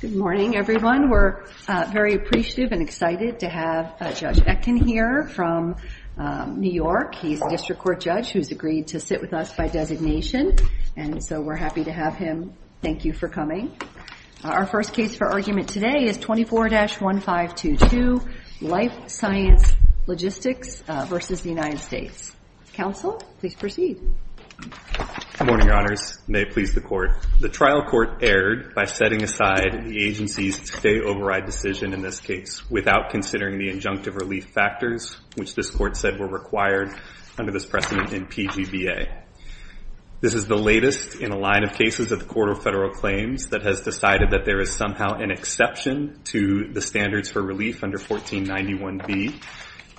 Good morning, everyone. We're very appreciative and excited to have Judge Etkin here from New York. He's a district court judge who's agreed to sit with us by designation, and so we're happy to have him. Thank you for coming. Our first case for argument today is 24-1522 Life Science Logistics v. United States. Counsel, please proceed. Good morning, Your Honors. May it please the Court. The trial court erred by setting aside the agency's stay-override decision in this case without considering the injunctive relief factors which this court said were required under this precedent in PGBA. This is the latest in a line of cases of the Court of Federal Claims that has decided that there is somehow an exception to the standards for relief under 1491B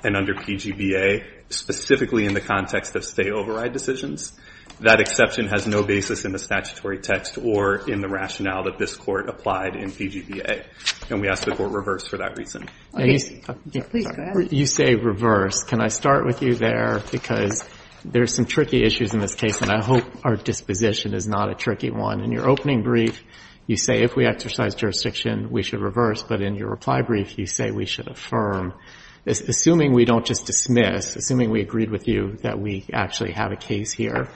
and under PGBA, specifically in the context of stay-override decisions. That exception has no basis in the statutory text or in the rationale that this court applied in PGBA, and we ask the Court reverse for that reason. You say reverse. Can I start with you there? Because there's some tricky issues in this case, and I hope our disposition is not a tricky one. In your opening brief, you say if we exercise jurisdiction, we should reverse, but in your reply brief, you say we should affirm. Assuming we don't just dismiss, assuming we agreed with you that we actually have a case here,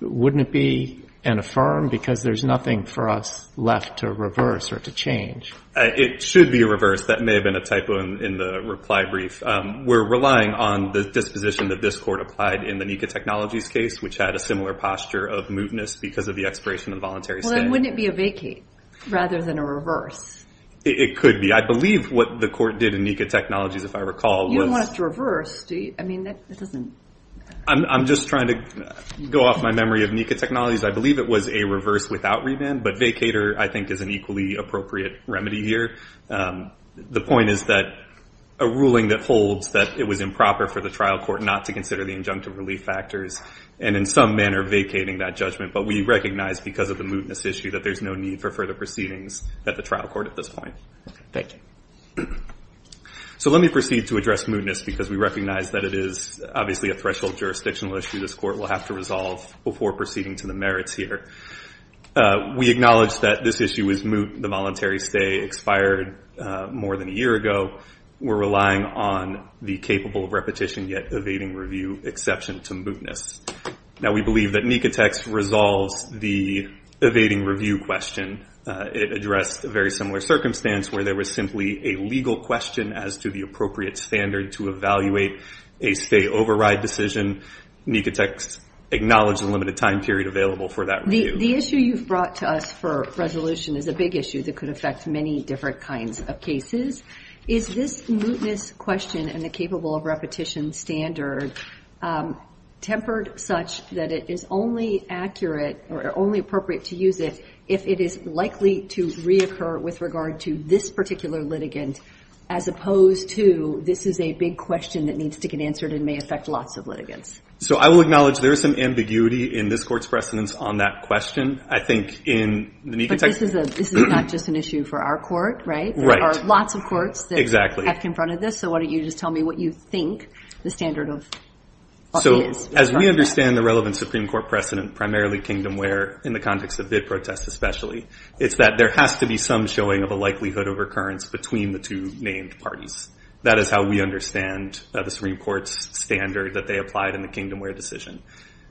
wouldn't it be an affirm? Because there's nothing for us left to reverse or to change. It should be a reverse. That may have been a typo in the reply brief. We're relying on the disposition that this court applied in the NECA Technologies case, which had a similar posture of mootness because of the expiration of the voluntary stay. Well, then wouldn't it be a vacate rather than a reverse? It could be. I believe what the court did in NECA Technologies, if I recall, was... You don't want us to reverse. Do you? I mean, that doesn't... I'm just trying to go off my memory of NECA Technologies. I believe it was a reverse without revamp, but vacater, I think, is an equally appropriate remedy here. The point is that a ruling that holds that it was improper for the trial court not to consider the injunctive relief factors and in some manner vacating that judgment, but we recognize because of the mootness issue that there's no need for further proceedings at the trial court at this point. Thank you. So let me proceed to address mootness because we recognize that it is obviously a threshold jurisdictional issue this court will have to resolve before proceeding to the merits here. We acknowledge that this issue is moot. The voluntary stay expired more than a year ago. We're relying on the capable repetition yet evading review exception to mootness. Now, we believe that NECA text resolves the evading review question. It addressed a very similar circumstance where there was simply a legal question as to the appropriate standard to evaluate a stay override decision. NECA text acknowledged the limited time period available for that review. The issue you've brought to us for resolution is a big issue that could affect many different kinds of cases. Is this mootness question and the capable repetition standard tempered such that it is only accurate or only appropriate to use it if it is likely to reoccur with regard to this particular litigant as opposed to this is a big question that needs to get answered and may affect lots of litigants? So I will acknowledge there is some ambiguity in this court's precedence on that question. But this is not just an issue for our court, right? Right. There are lots of courts that have confronted this. So why don't you just tell me what you think the standard of what it is. So as we understand the relevant Supreme Court precedent, primarily Kingdomware in the context of bid protests especially, it's that there has to be some showing of a likelihood of recurrence between the two named parties. That is how we understand the Supreme Court's standard that they applied in the Kingdomware decision.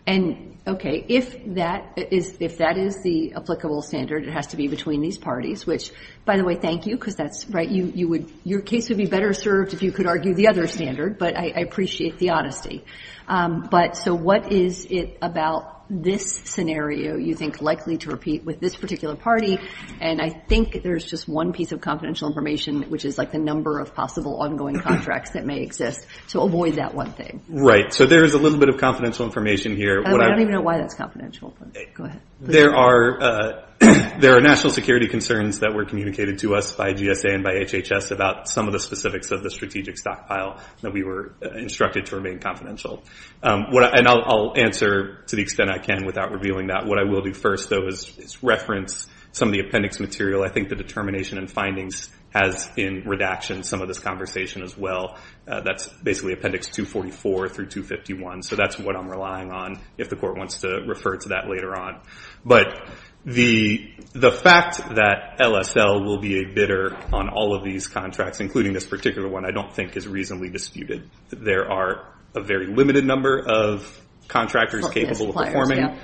And, okay, if that is the applicable standard, it has to be between these parties, which, by the way, thank you because that's right. Your case would be better served if you could argue the other standard, but I appreciate the honesty. But so what is it about this scenario you think likely to repeat with this particular party? And I think there's just one piece of confidential information, which is like the number of possible ongoing contracts that may exist. So avoid that one thing. Right. So there is a little bit of confidential information here. I don't even know why that's confidential. Go ahead. There are national security concerns that were communicated to us by GSA and by HHS about some of the specifics of the strategic stockpile that we were instructed to remain confidential. And I'll answer to the extent I can without revealing that. What I will do first, though, is reference some of the appendix material. I think the determination and findings has in redaction some of this conversation as well. That's basically appendix 244 through 251. So that's what I'm relying on if the court wants to refer to that later on. But the fact that LSL will be a bidder on all of these contracts, including this particular one, I don't think is reasonably disputed. There are a very limited number of contractors capable of performing.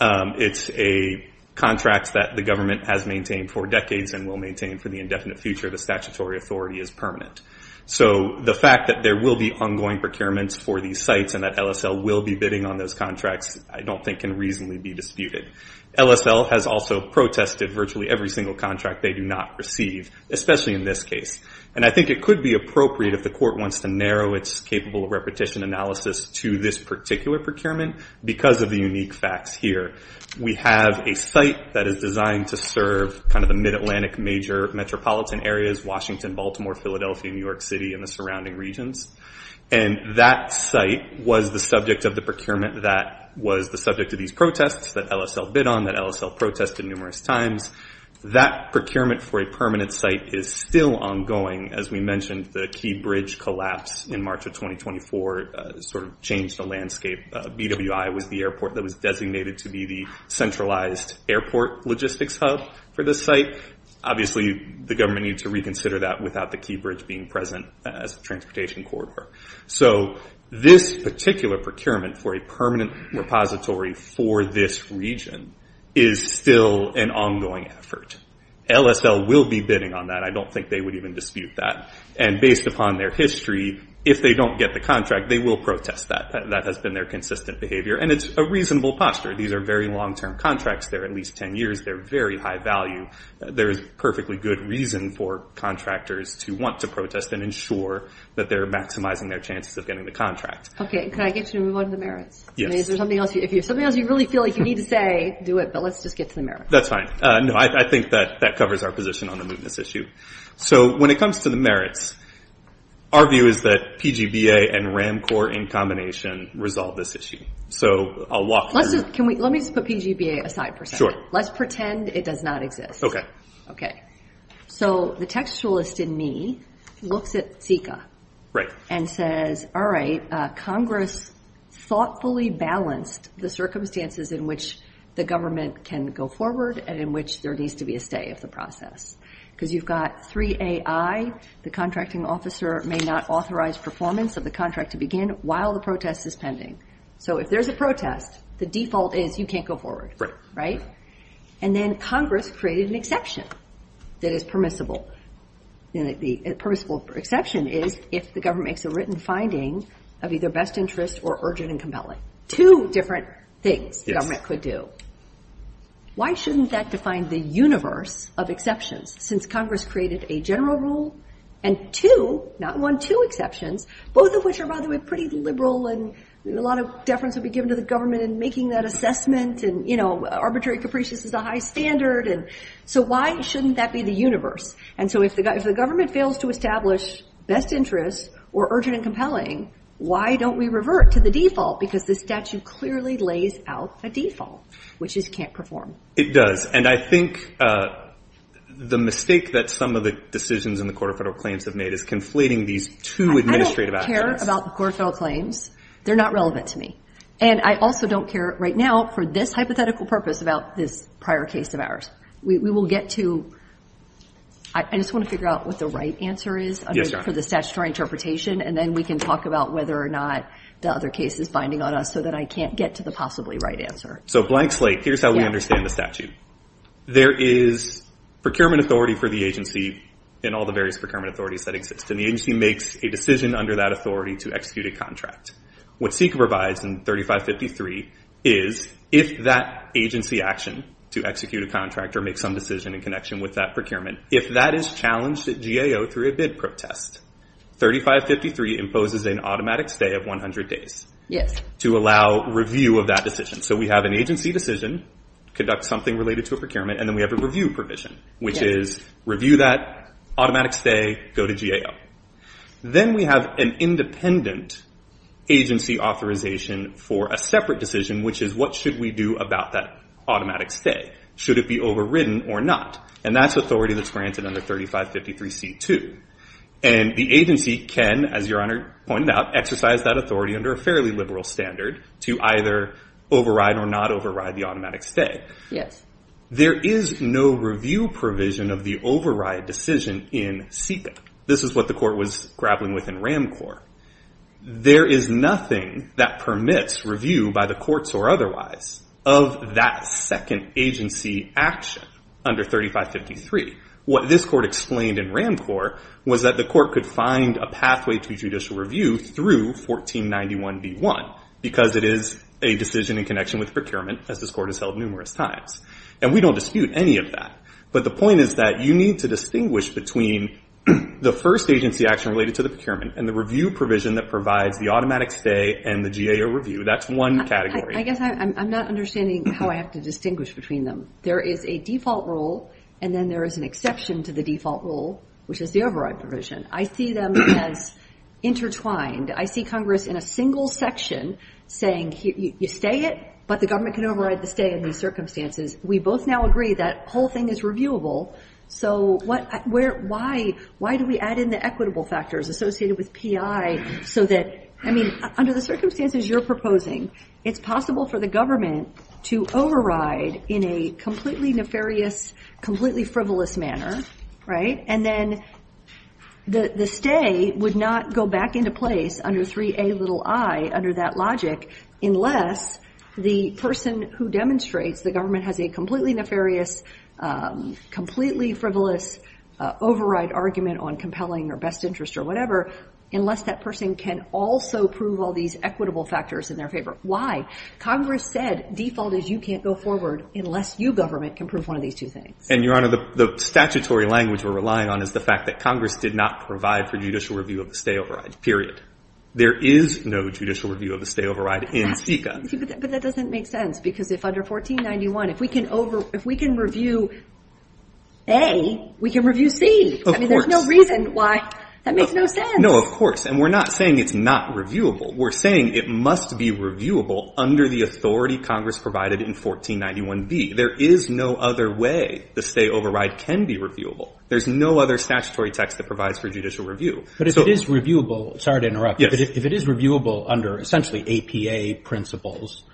It's a contract that the government has maintained for decades and will maintain for the indefinite future of the statutory authority as permanent. So the fact that there will be ongoing procurements for these sites and that LSL will be bidding on those contracts I don't think can reasonably be disputed. LSL has also protested virtually every single contract they do not receive, especially in this case. And I think it could be appropriate if the court wants to narrow its capable of repetition analysis to this particular procurement because of the unique facts here. We have a site that is designed to serve kind of the mid-Atlantic major metropolitan areas, Washington, Baltimore, Philadelphia, New York City, and the surrounding regions. And that site was the subject of the procurement that was the subject of these protests that LSL bid on, that LSL protested numerous times. That procurement for a permanent site is still ongoing. As we mentioned, the Key Bridge collapse in March of 2024 sort of changed the landscape. BWI was the airport that was designated to be the centralized airport logistics hub for this site. Obviously, the government needs to reconsider that without the Key Bridge being present as a transportation corridor. So this particular procurement for a permanent repository for this region is still an ongoing effort. LSL will be bidding on that. I don't think they would even dispute that. And based upon their history, if they don't get the contract, they will protest that. That has been their consistent behavior. And it's a reasonable posture. These are very long-term contracts. They're at least 10 years. They're very high value. There is perfectly good reason for contractors to want to protest and ensure that they're maximizing their chances of getting the contract. Can I get you to move on to the merits? Yes. If there's something else you really feel like you need to say, do it. But let's just get to the merits. That's fine. No, I think that that covers our position on the mootness issue. So when it comes to the merits, our view is that PGBA and RAMCOR in combination resolve this issue. Let me just put PGBA aside for a second. Sure. Let's pretend it does not exist. Okay. Okay. So the textualist in me looks at CICA and says, all right, Congress thoughtfully balanced the circumstances in which the government can go forward and in which there needs to be a stay of the process. Because you've got 3AI, the contracting officer, may not authorize performance of the contract to begin while the protest is pending. So if there's a protest, the default is you can't go forward. Right? And then Congress created an exception that is permissible. The permissible exception is if the government makes a written finding of either best interest or urgent and compelling. Two different things the government could do. Why shouldn't that define the universe of exceptions? Since Congress created a general rule and two, not one, two exceptions, both of which are, by the way, pretty liberal and a lot of deference would be given to the government in making that assessment and, you know, arbitrary capricious is a high standard. So why shouldn't that be the universe? And so if the government fails to establish best interest or urgent and compelling, why don't we revert to the default? Because the statute clearly lays out a default, which is can't perform. It does. And I think the mistake that some of the decisions in the Court of Federal Claims have made is conflating these two administrative aspects. I don't care about the Court of Federal Claims. They're not relevant to me. And I also don't care right now for this hypothetical purpose about this prior case of ours. We will get to, I just want to figure out what the right answer is for the statutory interpretation. And then we can talk about whether or not the other case is binding on us so that I can't get to the possibly right answer. So blank slate, here's how we understand the statute. There is procurement authority for the agency in all the various procurement authorities that exist. And the agency makes a decision under that authority to execute a contract. What SECA provides in 3553 is if that agency action to execute a contract or make some decision in connection with that procurement, if that is challenged at GAO through a bid protest, 3553 imposes an automatic stay of 100 days to allow review of that decision. So we have an agency decision, conduct something related to a procurement, and then we have a review provision, which is review that, automatic stay, go to GAO. Then we have an independent agency authorization for a separate decision, which is what should we do about that automatic stay? Should it be overridden or not? And that's authority that's granted under 3553C2. And the agency can, as Your Honor pointed out, exercise that authority under a fairly liberal standard to either override or not override the automatic stay. Yes. There is no review provision of the override decision in SECA. This is what the court was grappling with in RAMCOR. There is nothing that permits review by the courts or otherwise of that second agency action under 3553. What this court explained in RAMCOR was that the court could find a pathway to judicial review through 1491B1 because it is a decision in connection with procurement, as this court has held numerous times. And we don't dispute any of that. But the point is that you need to distinguish between the first agency action related to the procurement and the review provision that provides the automatic stay and the GAO review. That's one category. I guess I'm not understanding how I have to distinguish between them. There is a default rule, and then there is an exception to the default rule, which is the override provision. I see them as intertwined. I see Congress in a single section saying you stay it, but the government can override the stay in these circumstances. We both now agree that the whole thing is reviewable. So why do we add in the equitable factors associated with PI so that, I mean, under the circumstances you're proposing, it's possible for the government to override in a completely nefarious, completely frivolous manner, right? And then the stay would not go back into place under 3A little I, under that logic, unless the person who demonstrates the government has a completely nefarious, completely frivolous override argument on compelling or best interest or whatever, unless that person can also prove all these equitable factors in their favor. Why? Congress said default is you can't go forward unless you, government, can prove one of these two things. And, Your Honor, the statutory language we're relying on is the fact that Congress did not provide for judicial review of the stay override, period. There is no judicial review of the stay override in SECA. But that doesn't make sense, because if under 1491, if we can review A, we can review C. Of course. I mean, there's no reason why. That makes no sense. No, of course. And we're not saying it's not reviewable. We're saying it must be reviewable under the authority Congress provided in 1491B. There is no other way the stay override can be reviewable. There's no other statutory text that provides for judicial review. But if it is reviewable, sorry to interrupt. Yes. If it is reviewable under essentially APA principles,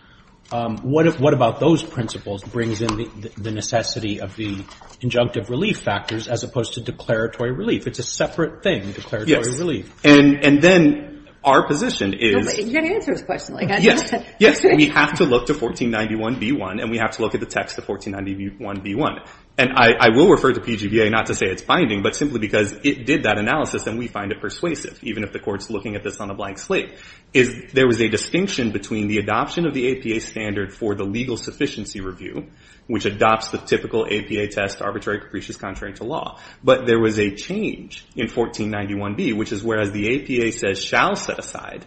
what about those principles brings in the necessity of the injunctive relief factors as opposed to declaratory relief? It's a separate thing, declaratory relief. And then our position is. You've got to answer his question like that. Yes. Yes. We have to look to 1491B1, and we have to look at the text of 1491B1. And I will refer to PGBA not to say it's binding, but simply because it did that analysis, and we find it persuasive, even if the court's looking at this on a blank slate. There was a distinction between the adoption of the APA standard for the legal sufficiency review, which adopts the typical APA test arbitrary capricious contrary to law. But there was a change in 1491B, which is whereas the APA says shall set aside,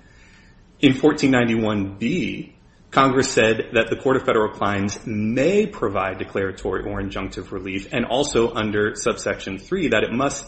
in 1491B, Congress said that the court of federal clients may provide declaratory or injunctive relief, and also under subsection 3, that it must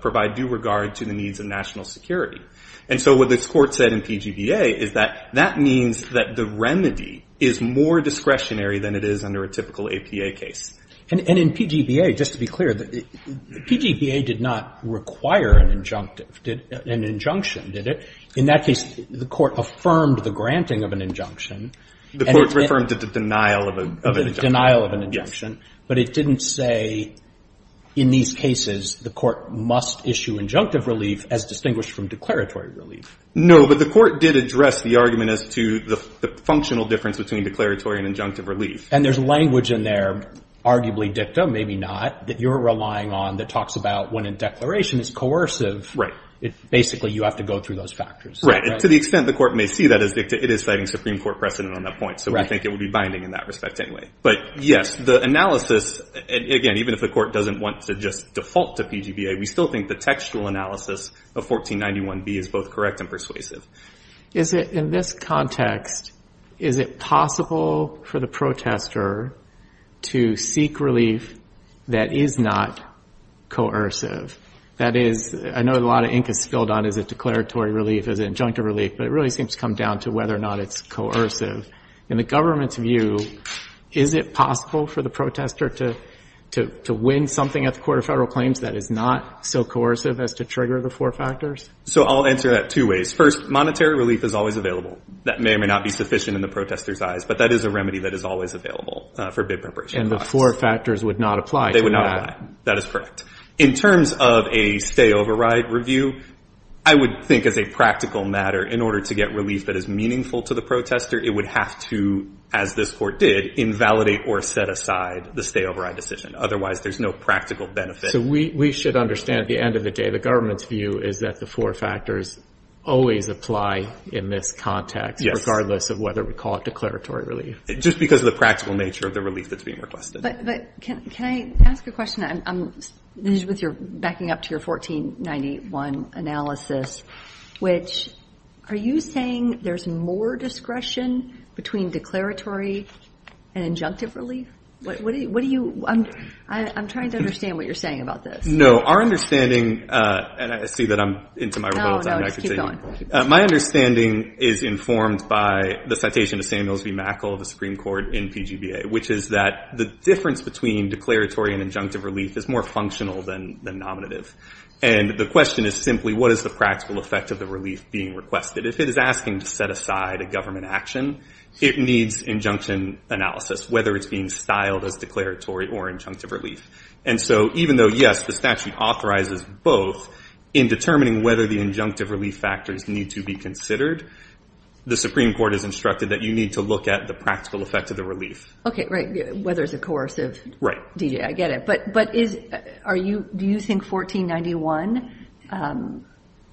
provide due regard to the needs of national security. And so what this court said in PGBA is that that means that the remedy is more discretionary than it is under a typical APA case. And in PGBA, just to be clear, PGBA did not require an injunctive, an injunction, did it? In that case, the court affirmed the granting of an injunction. The court's referring to the denial of an injunction. Denial of an injunction. But it didn't say in these cases the court must issue injunctive relief as distinguished from declaratory relief. No, but the court did address the argument as to the functional difference between declaratory and injunctive relief. And there's language in there, arguably dicta, maybe not, that you're relying on that talks about when a declaration is coercive. Right. So basically you have to go through those factors. And to the extent the court may see that as dicta, it is citing Supreme Court precedent on that point. Right. So we think it would be binding in that respect anyway. But yes, the analysis, again, even if the court doesn't want to just default to PGBA, we still think the textual analysis of 1491B is both correct and persuasive. In this context, is it possible for the protester to seek relief that is not coercive? That is, I know a lot of ink is spilled on is it declaratory relief, is it injunctive relief, but it really seems to come down to whether or not it's coercive. In the government's view, is it possible for the protester to win something at the Court of Federal Claims that is not so coercive as to trigger the four factors? So I'll answer that two ways. First, monetary relief is always available. That may or may not be sufficient in the protester's eyes, but that is a remedy that is always available for bid preparation. And the four factors would not apply to that. They would not apply. That is correct. In terms of a stay-over-ride review, I would think as a practical matter, in order to get relief that is meaningful to the protester, it would have to, as this court did, invalidate or set aside the stay-over-ride decision. Otherwise, there's no practical benefit. So we should understand at the end of the day, the government's view is that the four factors always apply in this context, regardless of whether we call it declaratory relief. Just because of the practical nature of the relief that's being requested. But can I ask a question? This is backing up to your 1491 analysis, which are you saying there's more discretion between declaratory and injunctive relief? I'm trying to understand what you're saying about this. No. Our understanding, and I see that I'm into my little time. No, no. Just keep going. My understanding is informed by the citation of Samuels B. in PGBA, which is that the difference between declaratory and injunctive relief is more functional than nominative. And the question is simply, what is the practical effect of the relief being requested? If it is asking to set aside a government action, it needs injunction analysis, whether it's being styled as declaratory or injunctive relief. And so even though, yes, the statute authorizes both in determining whether the injunctive relief factors need to be considered, the Supreme Court has Okay, right. Whether it's a coercive. Right. I get it. But do you think 1491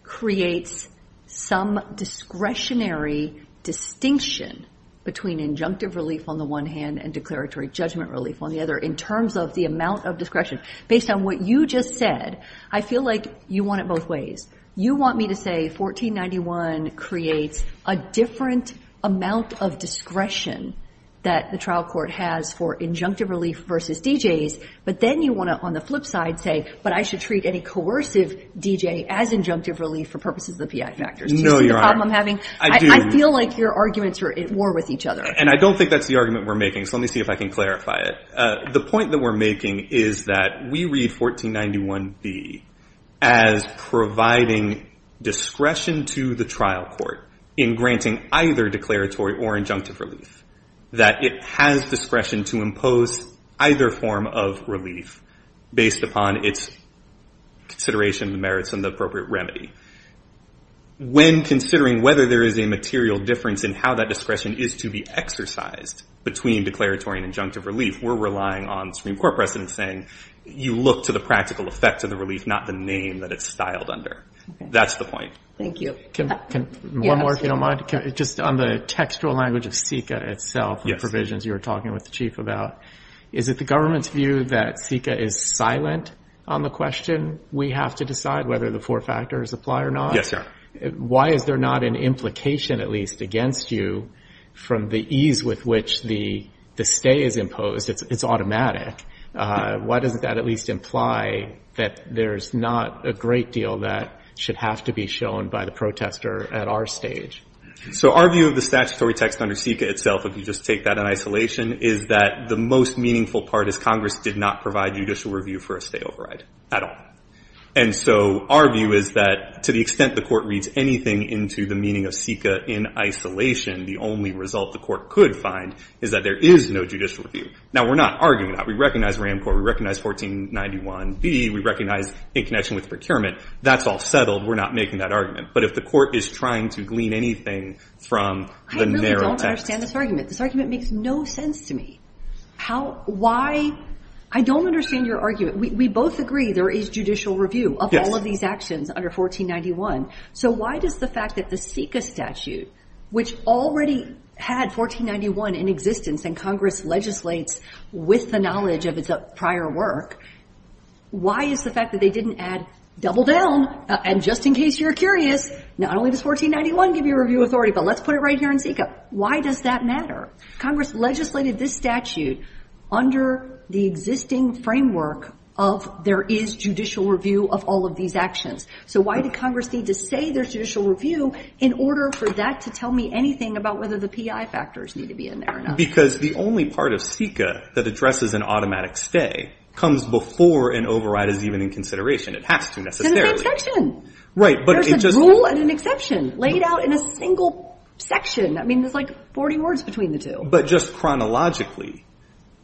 creates some discretionary distinction between injunctive relief on the one hand and declaratory judgment relief on the other in terms of the amount of discretion? Based on what you just said, I feel like you want it both ways. You want me to say 1491 creates a different amount of discretion that the trial court has for injunctive relief versus DJs, but then you want to, on the flip side, say, but I should treat any coercive DJ as injunctive relief for purposes of the PI factors. No, Your Honor. Do you see the problem I'm having? I do. I feel like your arguments are at war with each other. And I don't think that's the argument we're making, so let me see if I can clarify it. The point that we're making is that we read 1491B as providing discretion to the trial court in granting either declaratory or injunctive relief, that it has discretion to impose either form of relief based upon its consideration of the merits and the appropriate remedy. When considering whether there is a material difference in how that discretion is to be exercised between declaratory and injunctive relief, we're relying on the Supreme Court precedent saying, you look to the practical effects of the relief, not the name that it's styled under. That's the point. Thank you. One more, if you don't mind. Yes. Just on the textual language of CICA itself and the provisions you were talking with the Chief about, is it the government's view that CICA is silent on the question? We have to decide whether the four factors apply or not? Yes, Your Honor. Why is there not an implication at least against you from the ease with which the stay is imposed? It's automatic. Why doesn't that at least imply that there's not a great deal that should have to be shown by the protester at our stage? So our view of the statutory text under CICA itself, if you just take that in isolation, is that the most meaningful part is Congress did not provide judicial review for a stay override at all. And so our view is that to the extent the Court reads anything into the meaning of CICA in isolation, the only result the Court could find is that there is no judicial review. Now, we're not arguing that. We recognize RAMCORP. We recognize 1491B. We recognize in connection with procurement. That's all settled. We're not making that argument. But if the Court is trying to glean anything from the narrow text. I really don't understand this argument. This argument makes no sense to me. How? Why? I don't understand your argument. We both agree there is judicial review of all of these actions under 1491. So why does the fact that the CICA statute, which already had 1491 in existence and Congress legislates with the knowledge of its prior work, why is the fact that they didn't add, double down, and just in case you're curious, not only does 1491 give you review authority, but let's put it right here in CICA. Why does that matter? Congress legislated this statute under the existing framework of there is judicial review of all of these actions. So why did Congress need to say there's judicial review in order for that to tell me anything about whether the PI factors need to be in there or not? Because the only part of CICA that addresses an automatic stay comes before an override is even in consideration. It has to necessarily. Right. There's a rule and an exception laid out in a single section. I mean, there's like 40 words between the two. But just chronologically,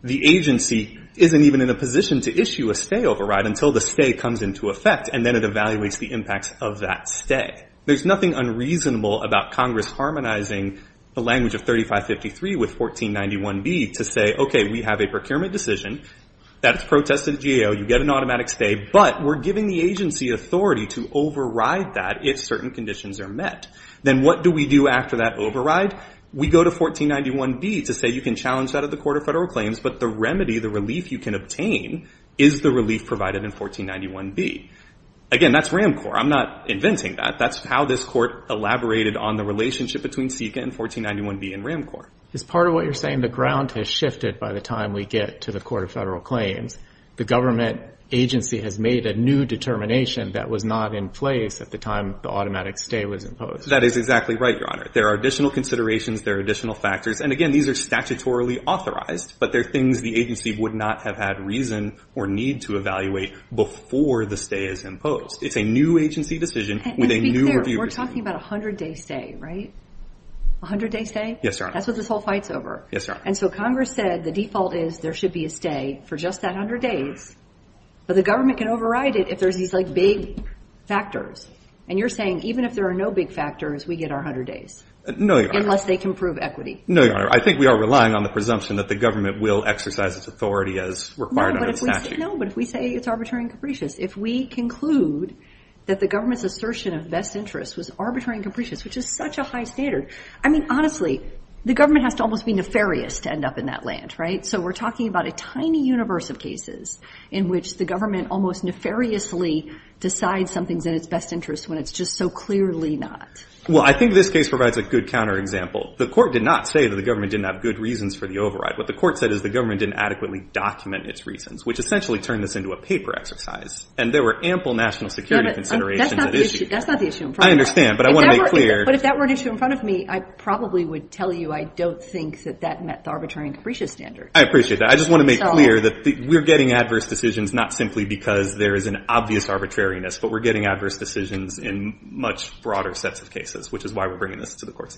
the agency isn't even in a position to issue a stay override until the stay comes into effect, and then it evaluates the impacts of that stay. There's nothing unreasonable about Congress harmonizing the language of 3553 with 1491B to say, okay, we have a procurement decision that's protested at GAO. You get an automatic stay, but we're giving the agency authority to override that if certain conditions are met. Then what do we do after that override? We go to 1491B to say you can challenge that at the Court of Federal Claims, but the remedy, the relief you can obtain is the relief provided in 1491B. Again, that's RAMCOR. I'm not inventing that. That's how this Court elaborated on the relationship between CICA and 1491B and RAMCOR. As part of what you're saying, the ground has shifted by the time we get to the Court of Federal Claims. The government agency has made a new determination that was not in place at the time the automatic stay was imposed. That is exactly right, Your Honor. There are additional considerations. There are additional factors. Again, these are statutorily authorized, but they're things the agency would not have had reason or need to evaluate before the stay is imposed. It's a new agency decision with a new review decision. To be clear, we're talking about a 100-day stay, right? A 100-day stay? Yes, Your Honor. That's what this whole fight's over. Yes, Your Honor. Congress said the default is there should be a stay for just that 100 days, but the government can override it if there's these, like, big factors. And you're saying even if there are no big factors, we get our 100 days. No, Your Honor. Unless they can prove equity. No, Your Honor. I think we are relying on the presumption that the government will exercise its authority as required under the statute. No, but if we say it's arbitrary and capricious, if we conclude that the government's assertion of best interest was arbitrary and capricious, which is such a high standard. I mean, honestly, the government has to almost be nefarious to end up in that land, right? So we're talking about a tiny universe of cases in which the government almost nefariously decides something's in its best interest when it's just so clearly not. Well, I think this case provides a good counterexample. The court did not say that the government didn't have good reasons for the override. What the court said is the government didn't adequately document its reasons, which essentially turned this into a paper exercise, and there were ample national security considerations at issue. That's not the issue in front of me. I understand, but I want to make clear. But if that were an issue in front of me, I probably would tell you I don't think that that met the arbitrary and capricious standard. I appreciate that. I just want to make clear that we're getting adverse decisions not simply because there is an obvious arbitrariness, but we're getting adverse decisions in much broader sets of cases, which is why we're bringing this to the court's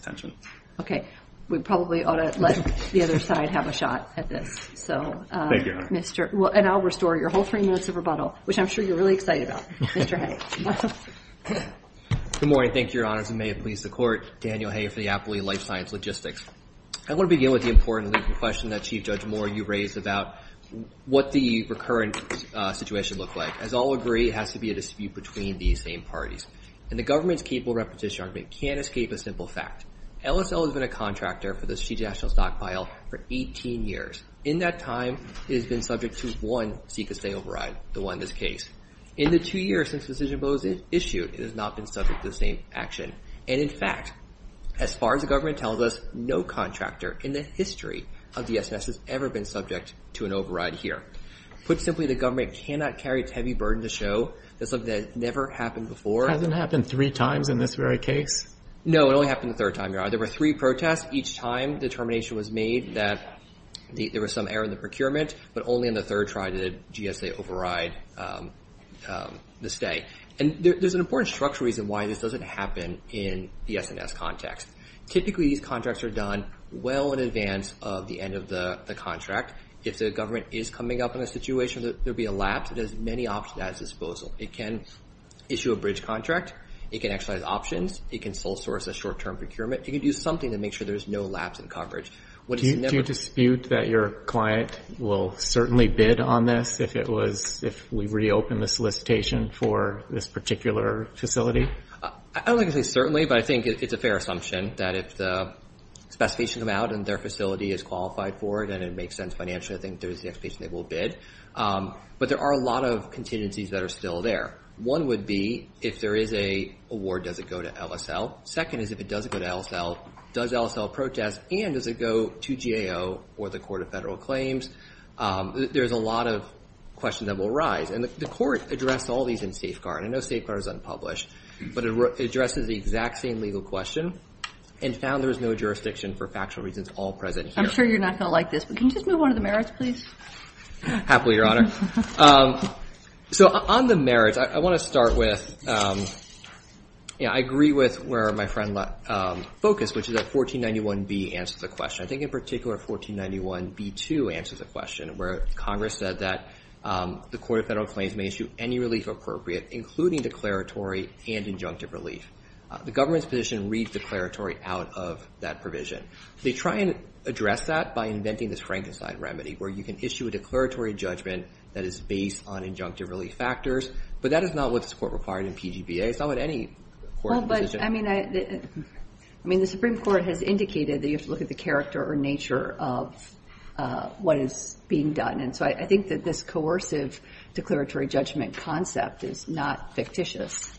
Okay. We probably ought to let the other side have a shot at this. Thank you, Your Honor. And I'll restore your whole three minutes of rebuttal, which I'm sure you're really excited about. Mr. Hay. Good morning. Thank you, Your Honors. And may it please the court, Daniel Hay for the Appley Life Science Logistics. I want to begin with the important question that Chief Judge Moore, you raised about what the recurrent situation looks like. As I'll agree, it has to be a dispute between these same parties. And the government's capable repetition argument can't escape a simple fact. LSL has been a contractor for the strategic national stockpile for 18 years. In that time, it has been subject to one SECA stay override, the one in this case. In the two years since the decision was issued, it has not been subject to the same action. And, in fact, as far as the government tells us, no contractor in the history of DSS has ever been subject to an override here. Put simply, the government cannot carry its heavy burden to show that something that never happened before. Hasn't happened three times in this very case? No, it only happened the third time, Your Honor. There were three protests. Each time the determination was made that there was some error in the procurement, but only on the third try did GSA override the stay. And there's an important structural reason why this doesn't happen in the S&S context. Typically, these contracts are done well in advance of the end of the contract. If the government is coming up in a situation that there would be a lapse, it has many options at its disposal. It can issue a bridge contract. It can actualize options. It can sole source a short-term procurement. It can do something to make sure there's no lapse in coverage. Do you dispute that your client will certainly bid on this if we reopen the facility or this particular facility? I don't think it's certainly, but I think it's a fair assumption that if the specification comes out and their facility is qualified for it and it makes sense financially, I think there's the expectation they will bid. But there are a lot of contingencies that are still there. One would be if there is an award, does it go to LSL? Second is if it does go to LSL, does LSL protest, and does it go to GAO or the Court of Federal Claims? There's a lot of questions that will arise. And the Court addressed all these in Safeguard. I know Safeguard is unpublished, but it addresses the exact same legal question and found there is no jurisdiction for factual reasons all present here. I'm sure you're not going to like this, but can you just move on to the merits, please? Happily, Your Honor. So on the merits, I want to start with I agree with where my friend focused, which is that 1491B answers the question. I think in particular 1491B2 answers the question where Congress said that the Court of Federal Claims may issue any relief appropriate, including declaratory and injunctive relief. The government's position reads declaratory out of that provision. They try and address that by inventing this Frankenstein remedy where you can issue a declaratory judgment that is based on injunctive relief factors, but that is not what this Court required in PGBA. It's not what any court's position is. I mean, the Supreme Court has indicated that you have to look at the character or nature of what is being done. And so I think that this coercive declaratory judgment concept is not fictitious.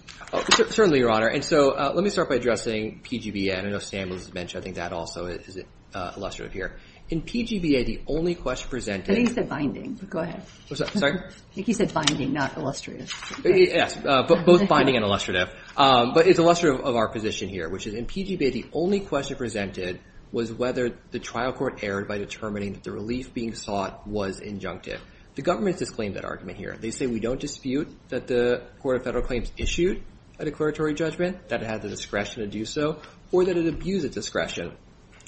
Certainly, Your Honor. And so let me start by addressing PGBA. I know Sam was mentioning that also is illustrative here. In PGBA, the only question presented ñ I think he said binding. Go ahead. Sorry? I think he said binding, not illustrative. Yes, both binding and illustrative. But it's illustrative of our position here, which is in PGBA, the only question presented was whether the trial court erred by determining that the relief being sought was injunctive. The government has disclaimed that argument here. They say we don't dispute that the Court of Federal Claims issued a declaratory judgment, that it had the discretion to do so, or that it abused its discretion.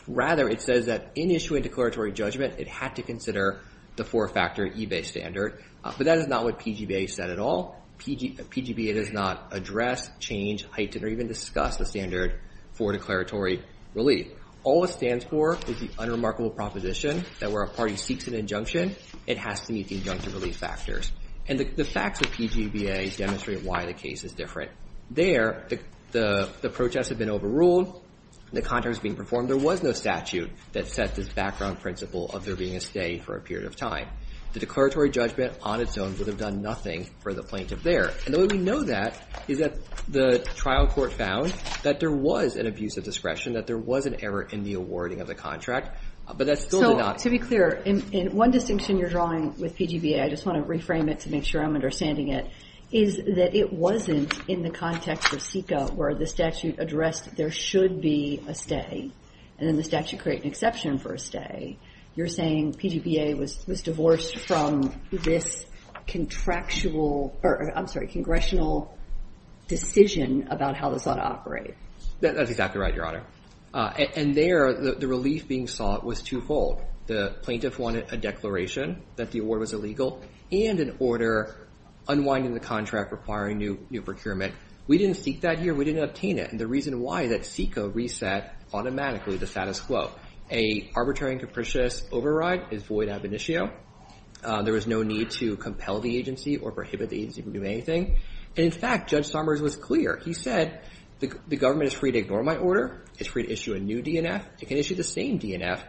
Rather, it says that in issuing a declaratory judgment, it had to consider the four-factor EBAY standard. But that is not what PGBA said at all. PGBA does not address, change, heighten, or even discuss the standard for declaratory relief. All it stands for is the unremarkable proposition that where a party seeks an injunction, it has to meet the injunctive relief factors. And the facts of PGBA demonstrate why the case is different. There, the protests have been overruled. The contract is being performed. There was no statute that set this background principle of there being a stay for a period of time. The declaratory judgment on its own would have done nothing for the plaintiff there. And the way we know that is that the trial court found that there was an abuse of discretion, that there was an error in the awarding of the contract, but that still did not. So, to be clear, in one distinction you're drawing with PGBA, I just want to reframe it to make sure I'm understanding it, is that it wasn't in the context of SECA where the statute addressed there should be a stay, and then the statute created an exception for a stay. You're saying PGBA was divorced from this contractual or, I'm sorry, congressional decision about how this ought to operate. That's exactly right, Your Honor. And there, the relief being sought was twofold. The plaintiff wanted a declaration that the award was illegal and an order unwinding the contract requiring new procurement. We didn't seek that here. We didn't obtain it. And the reason why is that SECA reset automatically the status quo. An arbitrary and capricious override is void ad venitio. There was no need to compel the agency or prohibit the agency from doing anything. And, in fact, Judge Somers was clear. He said the government is free to ignore my order. It's free to issue a new DNF. It can issue the same DNF,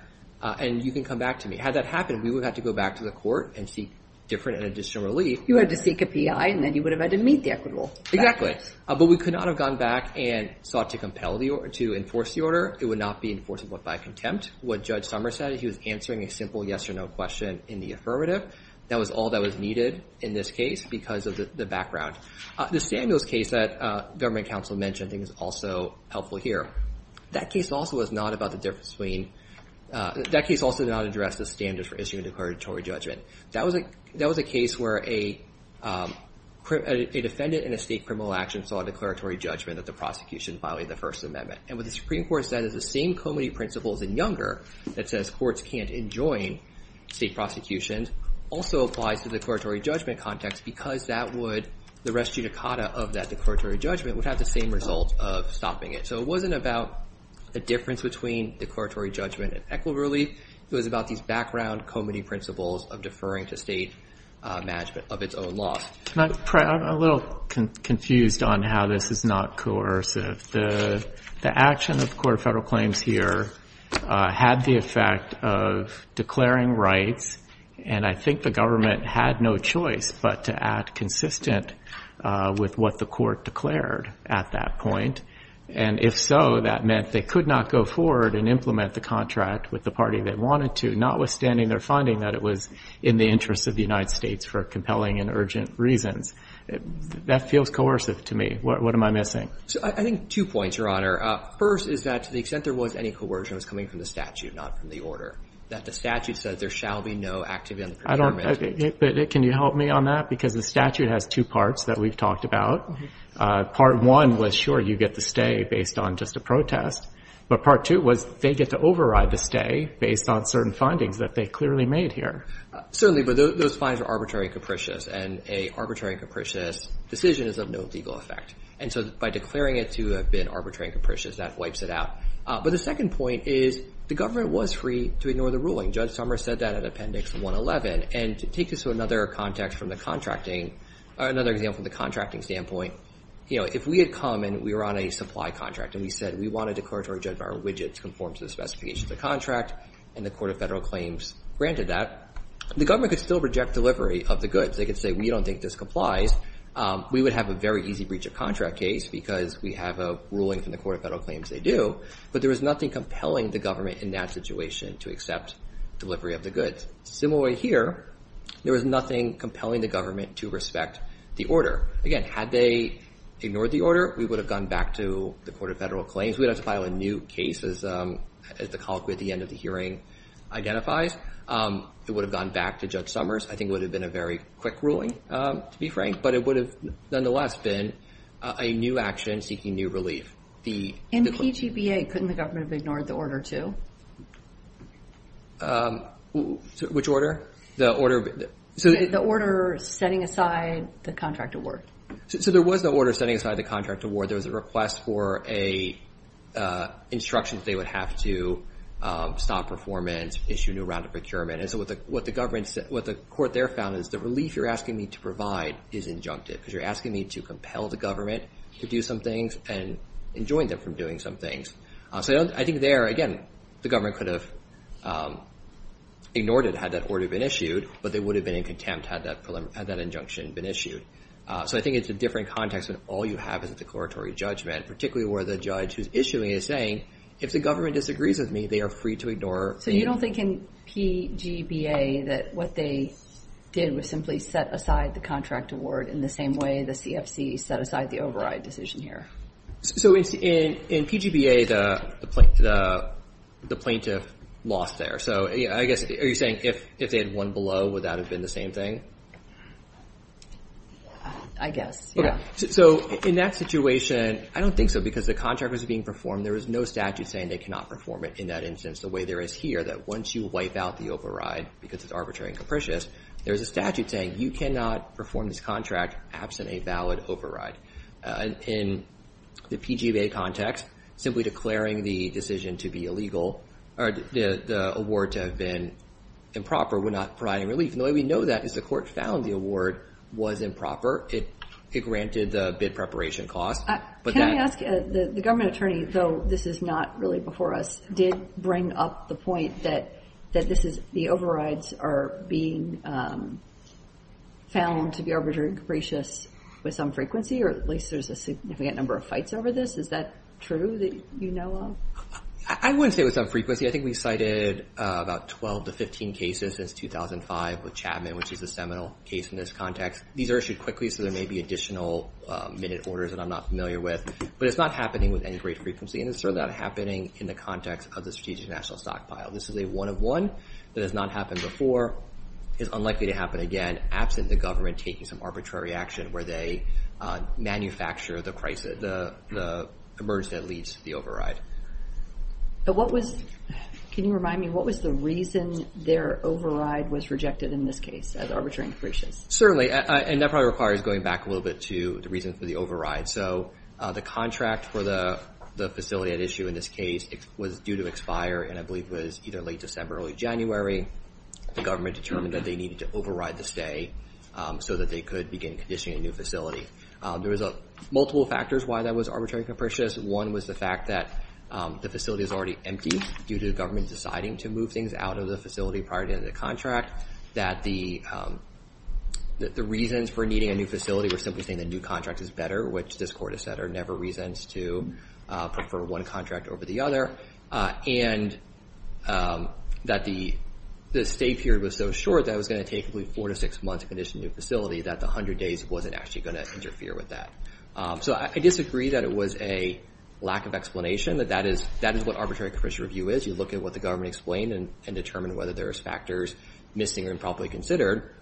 and you can come back to me. Had that happened, we would have had to go back to the court and seek different and additional relief. You had to seek a PI, and then you would have had to meet the equitable. Exactly. But we could not have gone back and sought to compel the order, to enforce the order. It would not be enforceable by contempt. What Judge Somers said is he was answering a simple yes or no question in the affirmative. That was all that was needed in this case because of the background. The Samuels case that government counsel mentioned, I think, is also helpful here. That case also was not about the difference between that case also did not address the standards for issuing a declaratory judgment. That was a case where a defendant in a state criminal action saw a declaratory judgment that the prosecution violated the First Amendment. And what the Supreme Court said is the same comity principles in Younger that says courts can't enjoin state prosecutions also applies to the declaratory judgment context because the res judicata of that declaratory judgment would have the same result of stopping it. So it wasn't about the difference between declaratory judgment and equitable relief. It was about these background comity principles of deferring to state management of its own law. I'm a little confused on how this is not coercive. The action of the Court of Federal Claims here had the effect of declaring rights, and I think the government had no choice but to act consistent with what the court declared at that point. And if so, that meant they could not go forward and implement the contract with the party they wanted to, notwithstanding their finding that it was in the interest of the United States for compelling and urgent reasons. That feels coercive to me. What am I missing? I think two points, Your Honor. First is that to the extent there was any coercion, it was coming from the statute, not from the order. That the statute says there shall be no activity on the procurement. But can you help me on that? Because the statute has two parts that we've talked about. Part one was, sure, you get to stay based on just a protest, but part two was they get to override the stay based on certain findings that they clearly made here. Certainly, but those findings are arbitrary and capricious, and an arbitrary and capricious decision is of no legal effect. And so by declaring it to have been arbitrary and capricious, that wipes it out. But the second point is the government was free to ignore the ruling. Judge Summers said that in Appendix 111. And to take this to another context from the contracting, another example from the contracting standpoint, you know, if we had come and we were on a supply contract and we said we want a declaratory judge of our widgets conform to the specifications of the contract, and the Court of Federal Claims granted that, the government could still reject delivery of the goods. They could say we don't think this complies. We would have a very easy breach of contract case because we have a ruling from the Court of Federal Claims they do. But there was nothing compelling the government in that situation to accept delivery of the goods. Similar way here, there was nothing compelling the government to respect the order. Again, had they ignored the order, we would have gone back to the Court of Federal Claims. We would have to file a new case as the colloquy at the end of the hearing identifies. It would have gone back to Judge Summers. I think it would have been a very quick ruling, to be frank. But it would have nonetheless been a new action seeking new relief. In PGBA, couldn't the government have ignored the order, too? Which order? The order setting aside the contract award. So there was the order setting aside the contract award. There was a request for instructions they would have to stop performance, issue a new round of procurement. And so what the court there found is the relief you're asking me to provide is injunctive because you're asking me to compel the government to do some things and enjoin them from doing some things. So I think there, again, the government could have ignored it had that order been issued, but they would have been in contempt had that injunction been issued. So I think it's a different context when all you have is a declaratory judgment, particularly where the judge who's issuing is saying, if the government disagrees with me, they are free to ignore. So you don't think in PGBA that what they did was simply set aside the contract award in the same way the CFC set aside the override decision here? So in PGBA, the plaintiff lost there. So I guess, are you saying if they had won below, would that have been the same thing? I guess, yeah. So in that situation, I don't think so because the contract was being performed. There was no statute saying they cannot perform it in that instance the way there is here, that once you wipe out the override because it's arbitrary and capricious, there's a statute saying you cannot perform this contract absent a valid override. In the PGBA context, simply declaring the decision to be illegal, or the award to have been improper would not provide any relief. And the way we know that is the court found the award was improper. It granted the bid preparation cost. Can I ask, the government attorney, though this is not really before us, did bring up the point that the overrides are being found to be arbitrary and capricious with some frequency, or at least there's a significant number of fights over this? Is that true that you know of? I wouldn't say with some frequency. I think we cited about 12 to 15 cases since 2005 with Chapman, which is a seminal case in this context. These are issued quickly, so there may be additional minute orders that I'm not familiar with. But it's not happening with any great frequency, and it's certainly not happening in the context of the strategic national stockpile. This is a one-of-one that has not happened before, is unlikely to happen again, absent the government taking some arbitrary action where they manufacture the emergency that leads to the override. Can you remind me, what was the reason their override was rejected in this case as arbitrary and capricious? Certainly, and that probably requires going back a little bit to the reason for the override. So the contract for the facility at issue in this case was due to expire, and I believe it was either late December or early January. The government determined that they needed to override the stay so that they could begin conditioning a new facility. There was multiple factors why that was arbitrary and capricious. One was the fact that the facility is already empty due to the government deciding to move things out of the facility prior to the contract, that the reasons for needing a new facility were simply saying the new contract is better, which this court has said are never reasons to prefer one contract over the other, and that the stay period was so short that it was going to take four to six months to condition a new facility that the 100 days wasn't actually going to interfere with that. So I disagree that it was a lack of explanation, that that is what arbitrary and capricious review is. You look at what the government explained and determine whether there's factors missing or improperly considered.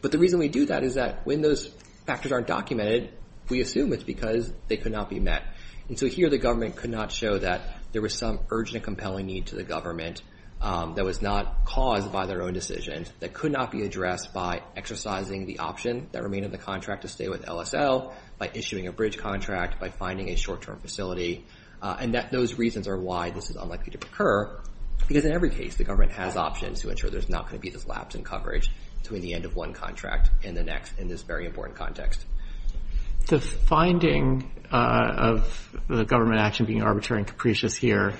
But the reason we do that is that when those factors aren't documented, we assume it's because they could not be met. And so here the government could not show that there was some urgent and compelling need to the government that was not caused by their own decisions, that could not be addressed by exercising the option that remained in the contract to stay with LSL, by issuing a bridge contract, by finding a short-term facility, and that those reasons are why this is unlikely to occur, because in every case the government has options to ensure there's not going to be this lapse in coverage between the end of one contract and the next in this very important context. The finding of the government action being arbitrary and capricious here,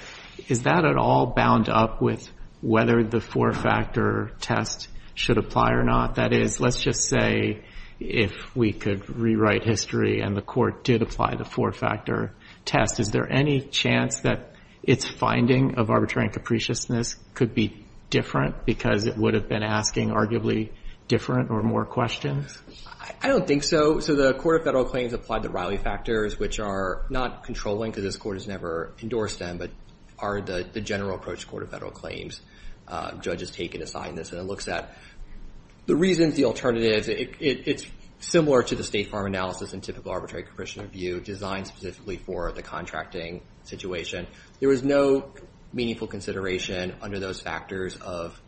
is that at all bound up with whether the four-factor test should apply or not? That is, let's just say if we could rewrite history and the court did apply the four-factor test, is there any chance that its finding of arbitrary and capriciousness could be different because it would have been asking arguably different or more questions? I don't think so. So the Court of Federal Claims applied the Riley factors, which are not controlling, because this Court has never endorsed them, but are the general approach to the Court of Federal Claims. Judges take and assign this, and it looks at the reasons, the alternatives. It's similar to the State Farm Analysis and typical arbitrary and capriciousness view designed specifically for the contracting situation. There was no meaningful consideration under those factors of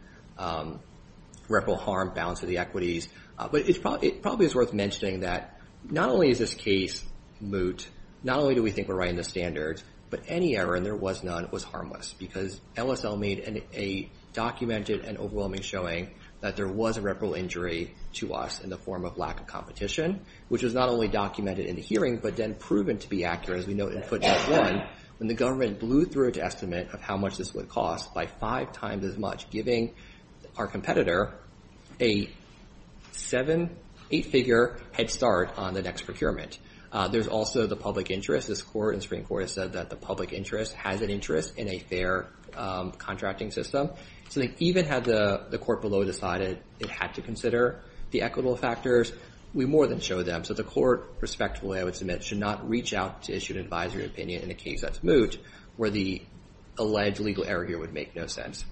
reparable harm, balance of the equities. But it probably is worth mentioning that not only is this case moot, not only do we think we're writing the standards, but any error, and there was none, was harmless, because LSL made a documented and overwhelming showing that there was a reparable injury to us in the form of lack of competition, which was not only documented in the hearing, but then proven to be accurate, as we note in footnote one, when the government blew through its estimate of how much this would cost by five times as much, giving our competitor a seven-, eight-figure head start on the next procurement. There's also the public interest. This Court in Supreme Court has said that the public interest has an interest in a fair contracting system. So even had the Court below decided it had to consider the equitable factors, we more than show them. So the Court, respectively, I would submit, should not reach out to issue an advisory opinion in a case that's moot where the alleged legal error here would make no sense.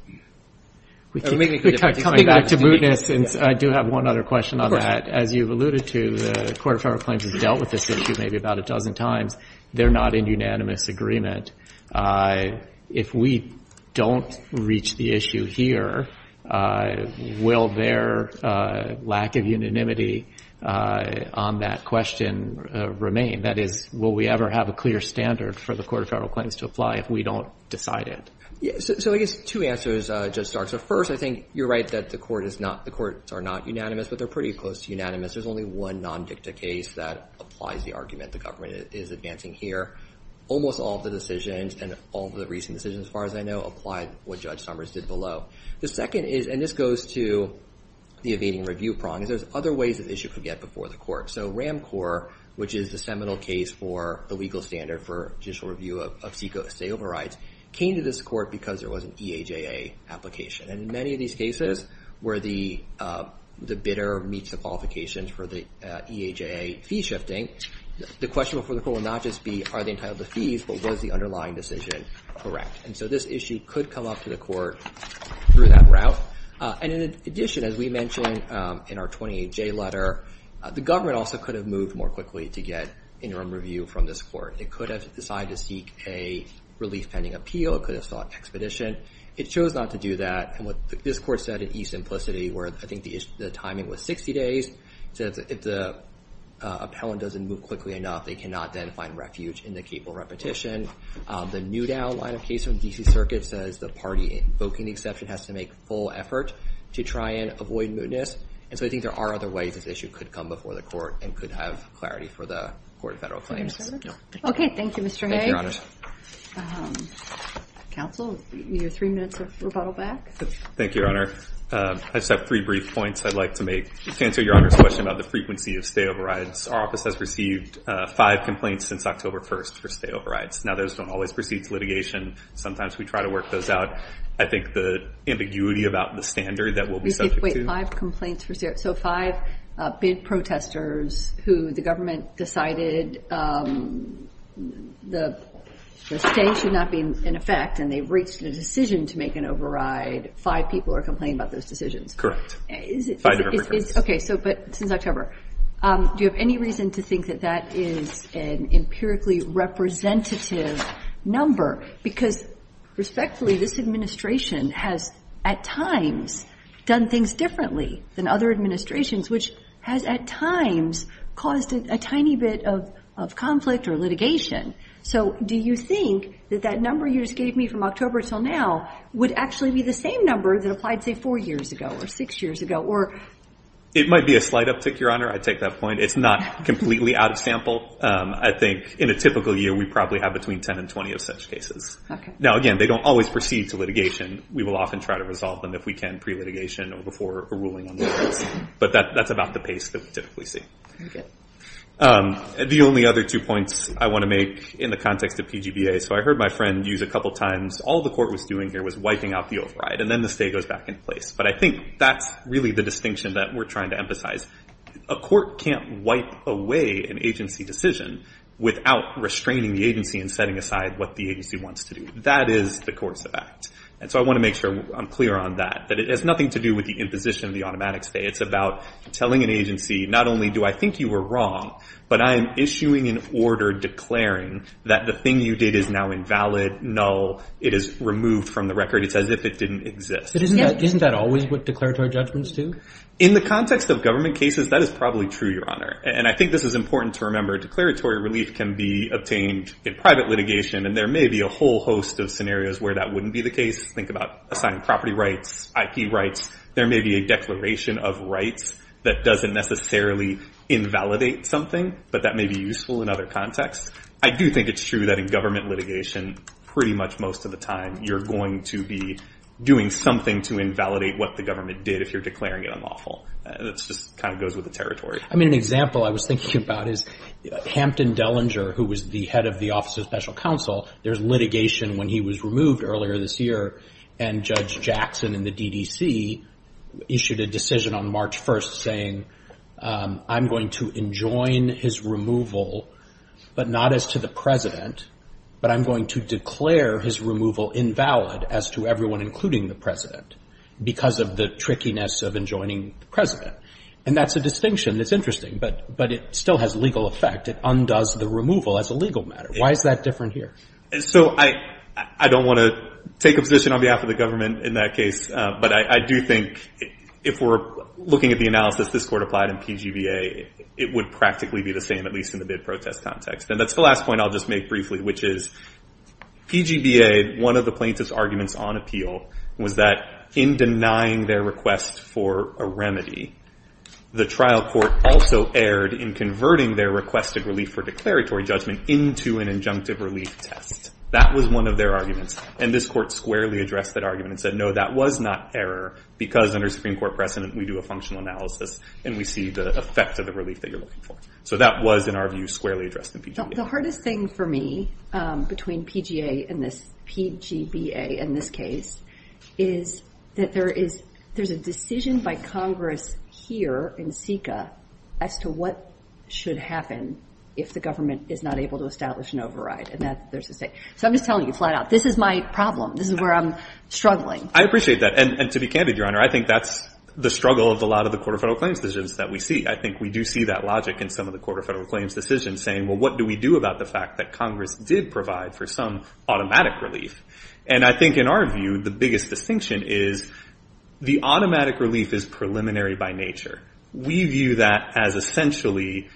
Coming back to mootness, I do have one other question on that. Of course. As you've alluded to, the Court of Federal Claims has dealt with this issue maybe about a dozen times. They're not in unanimous agreement. If we don't reach the issue here, will their lack of unanimity on that question remain? That is, will we ever have a clear standard for the Court of Federal Claims to apply if we don't decide it? So I guess two answers, Judge Stark. So first, I think you're right that the courts are not unanimous, but they're pretty close to unanimous. There's only one non-dicta case that applies the argument the government is advancing here. Almost all of the decisions and all of the recent decisions, as far as I know, apply what Judge Summers did below. The second is, and this goes to the evading review prong, is there's other ways this issue could get before the court. So RAMCOR, which is the seminal case for the legal standard for judicial review of state overrides, came to this court because there was an EAJA application. And in many of these cases where the bidder meets the qualifications for the EAJA fee shifting, the question before the court will not just be, are they entitled to fees, but was the underlying decision correct? And so this issue could come up to the court through that route. And in addition, as we mentioned in our 28J letter, the government also could have moved more quickly to get interim review from this court. It could have decided to seek a relief pending appeal. It could have sought expedition. It chose not to do that. And what this court said in e-simplicity where I think the timing was 60 days, it said if the appellant doesn't move quickly enough, they cannot then find refuge in the capable repetition. The Newdown line of case from the D.C. Circuit says the party invoking the exception has to make full effort to try and avoid mootness. And so I think there are other ways this issue could come before the court and could have clarity for the court and federal claims. Okay, thank you, Mr. Hay. Thank you, Your Honor. Counsel, you have three minutes of rebuttal back. Thank you, Your Honor. I just have three brief points I'd like to make. To answer Your Honor's question about the frequency of stayover rides, our office has received five complaints since October 1st for stayover rides. Now, those don't always proceed to litigation. Sometimes we try to work those out. I think the ambiguity about the standard that we'll be subject to. So five bid protesters who the government decided the stay should not be in effect and they've reached a decision to make an override, five people are complaining about those decisions? Correct. Okay, so but since October. Do you have any reason to think that that is an empirically representative number? Because respectfully, this administration has at times done things differently than other administrations, which has at times caused a tiny bit of conflict or litigation. So do you think that that number you just gave me from October until now would actually be the same number that applied, say, four years ago or six years ago? It might be a slight uptick, Your Honor. I take that point. It's not completely out of sample. I think in a typical year we probably have between 10 and 20 of such cases. Now, again, they don't always proceed to litigation. We will often try to resolve them if we can pre-litigation or before a ruling on the case. But that's about the pace that we typically see. The only other two points I want to make in the context of PGBA. So I heard my friend use a couple times all the court was doing here was wiping out the override, and then the stay goes back into place. But I think that's really the distinction that we're trying to emphasize. A court can't wipe away an agency decision without restraining the agency and setting aside what the agency wants to do. That is the course of act. And so I want to make sure I'm clear on that, that it has nothing to do with the imposition of the automatic stay. It's about telling an agency, not only do I think you were wrong, but I am issuing an order declaring that the thing you did is now invalid, null. It is removed from the record. It's as if it didn't exist. But isn't that always what declaratory judgments do? In the context of government cases, that is probably true, Your Honor. And I think this is important to remember. Declaratory relief can be obtained in private litigation, and there may be a whole host of scenarios where that wouldn't be the case. Think about assigned property rights, IP rights. There may be a declaration of rights that doesn't necessarily invalidate something, but that may be useful in other contexts. I do think it's true that in government litigation, pretty much most of the time, you're going to be doing something to invalidate what the government did if you're declaring it unlawful. It just kind of goes with the territory. I mean, an example I was thinking about is Hampton Dellinger, who was the head of the Office of Special Counsel. There was litigation when he was removed earlier this year, and Judge Jackson in the DDC issued a decision on March 1st saying, I'm going to enjoin his removal, but not as to the President, but I'm going to declare his removal invalid as to everyone, including the President, because of the trickiness of enjoining the President. And that's a distinction that's interesting, but it still has legal effect. It undoes the removal as a legal matter. Why is that different here? So I don't want to take a position on behalf of the government in that case, but I do think if we're looking at the analysis this Court applied in PGBA, it would practically be the same, at least in the bid protest context. And that's the last point I'll just make briefly, which is PGBA, one of the plaintiff's arguments on appeal was that in denying their request for a remedy, the trial court also erred in converting their requested relief for declaratory judgment into an injunctive relief test. That was one of their arguments, and this Court squarely addressed that argument and said, no, that was not error, because under Supreme Court precedent, we do a functional analysis and we see the effect of the relief that you're looking for. So that was, in our view, squarely addressed in PGBA. The hardest thing for me between PGBA and this case is that there is a decision by Congress here in SECA as to what should happen if the government is not able to establish an override. So I'm just telling you flat out, this is my problem. This is where I'm struggling. I appreciate that, and to be candid, Your Honor, I think that's the struggle of a lot of the court of federal claims decisions that we see. I think we do see that logic in some of the court of federal claims decisions, saying, well, what do we do about the fact that Congress did provide for some automatic relief? And I think in our view, the biggest distinction is the automatic relief is preliminary by nature. We view that as essentially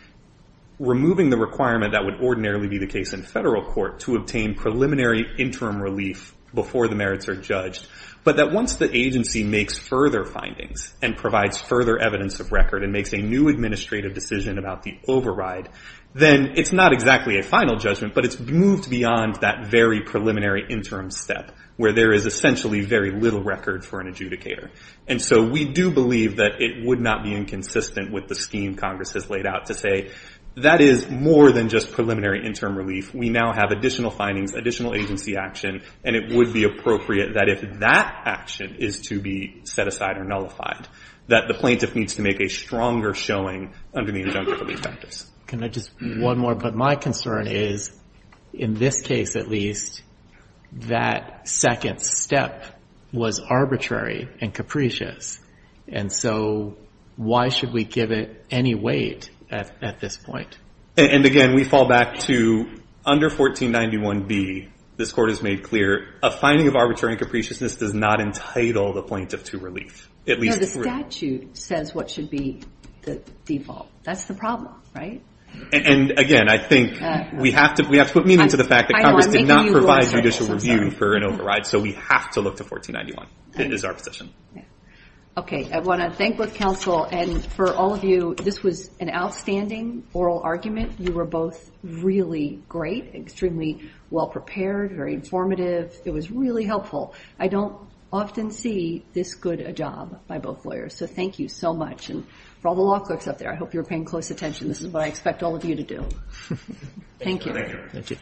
removing the requirement that would ordinarily be the case in federal court to obtain preliminary interim relief before the merits are judged, but that once the agency makes further findings and provides further evidence of record and makes a new administrative decision about the override, then it's not exactly a final judgment, but it's moved beyond that very preliminary interim step, where there is essentially very little record for an adjudicator. And so we do believe that it would not be inconsistent with the scheme Congress has laid out to say that is more than just preliminary interim relief. We now have additional findings, additional agency action, and it would be appropriate that if that action is to be set aside or nullified, that the plaintiff needs to make a stronger showing under the injunctive relief practice. Can I just add one more? But my concern is, in this case at least, that second step was arbitrary and capricious. And so why should we give it any weight at this point? And, again, we fall back to under 1491B, this Court has made clear, a finding of arbitrary and capriciousness does not entitle the plaintiff to relief, at least through. No, the statute says what should be the default. That's the problem, right? And, again, I think we have to put meaning to the fact that Congress did not provide judicial review for an override, so we have to look to 1491. It is our position. Okay. I want to thank both counsel, and for all of you, this was an outstanding oral argument. You were both really great, extremely well-prepared, very informative. It was really helpful. I don't often see this good a job by both lawyers. So thank you so much. And for all the law clerks up there, I hope you were paying close attention. This is what I expect all of you to do. Thank you.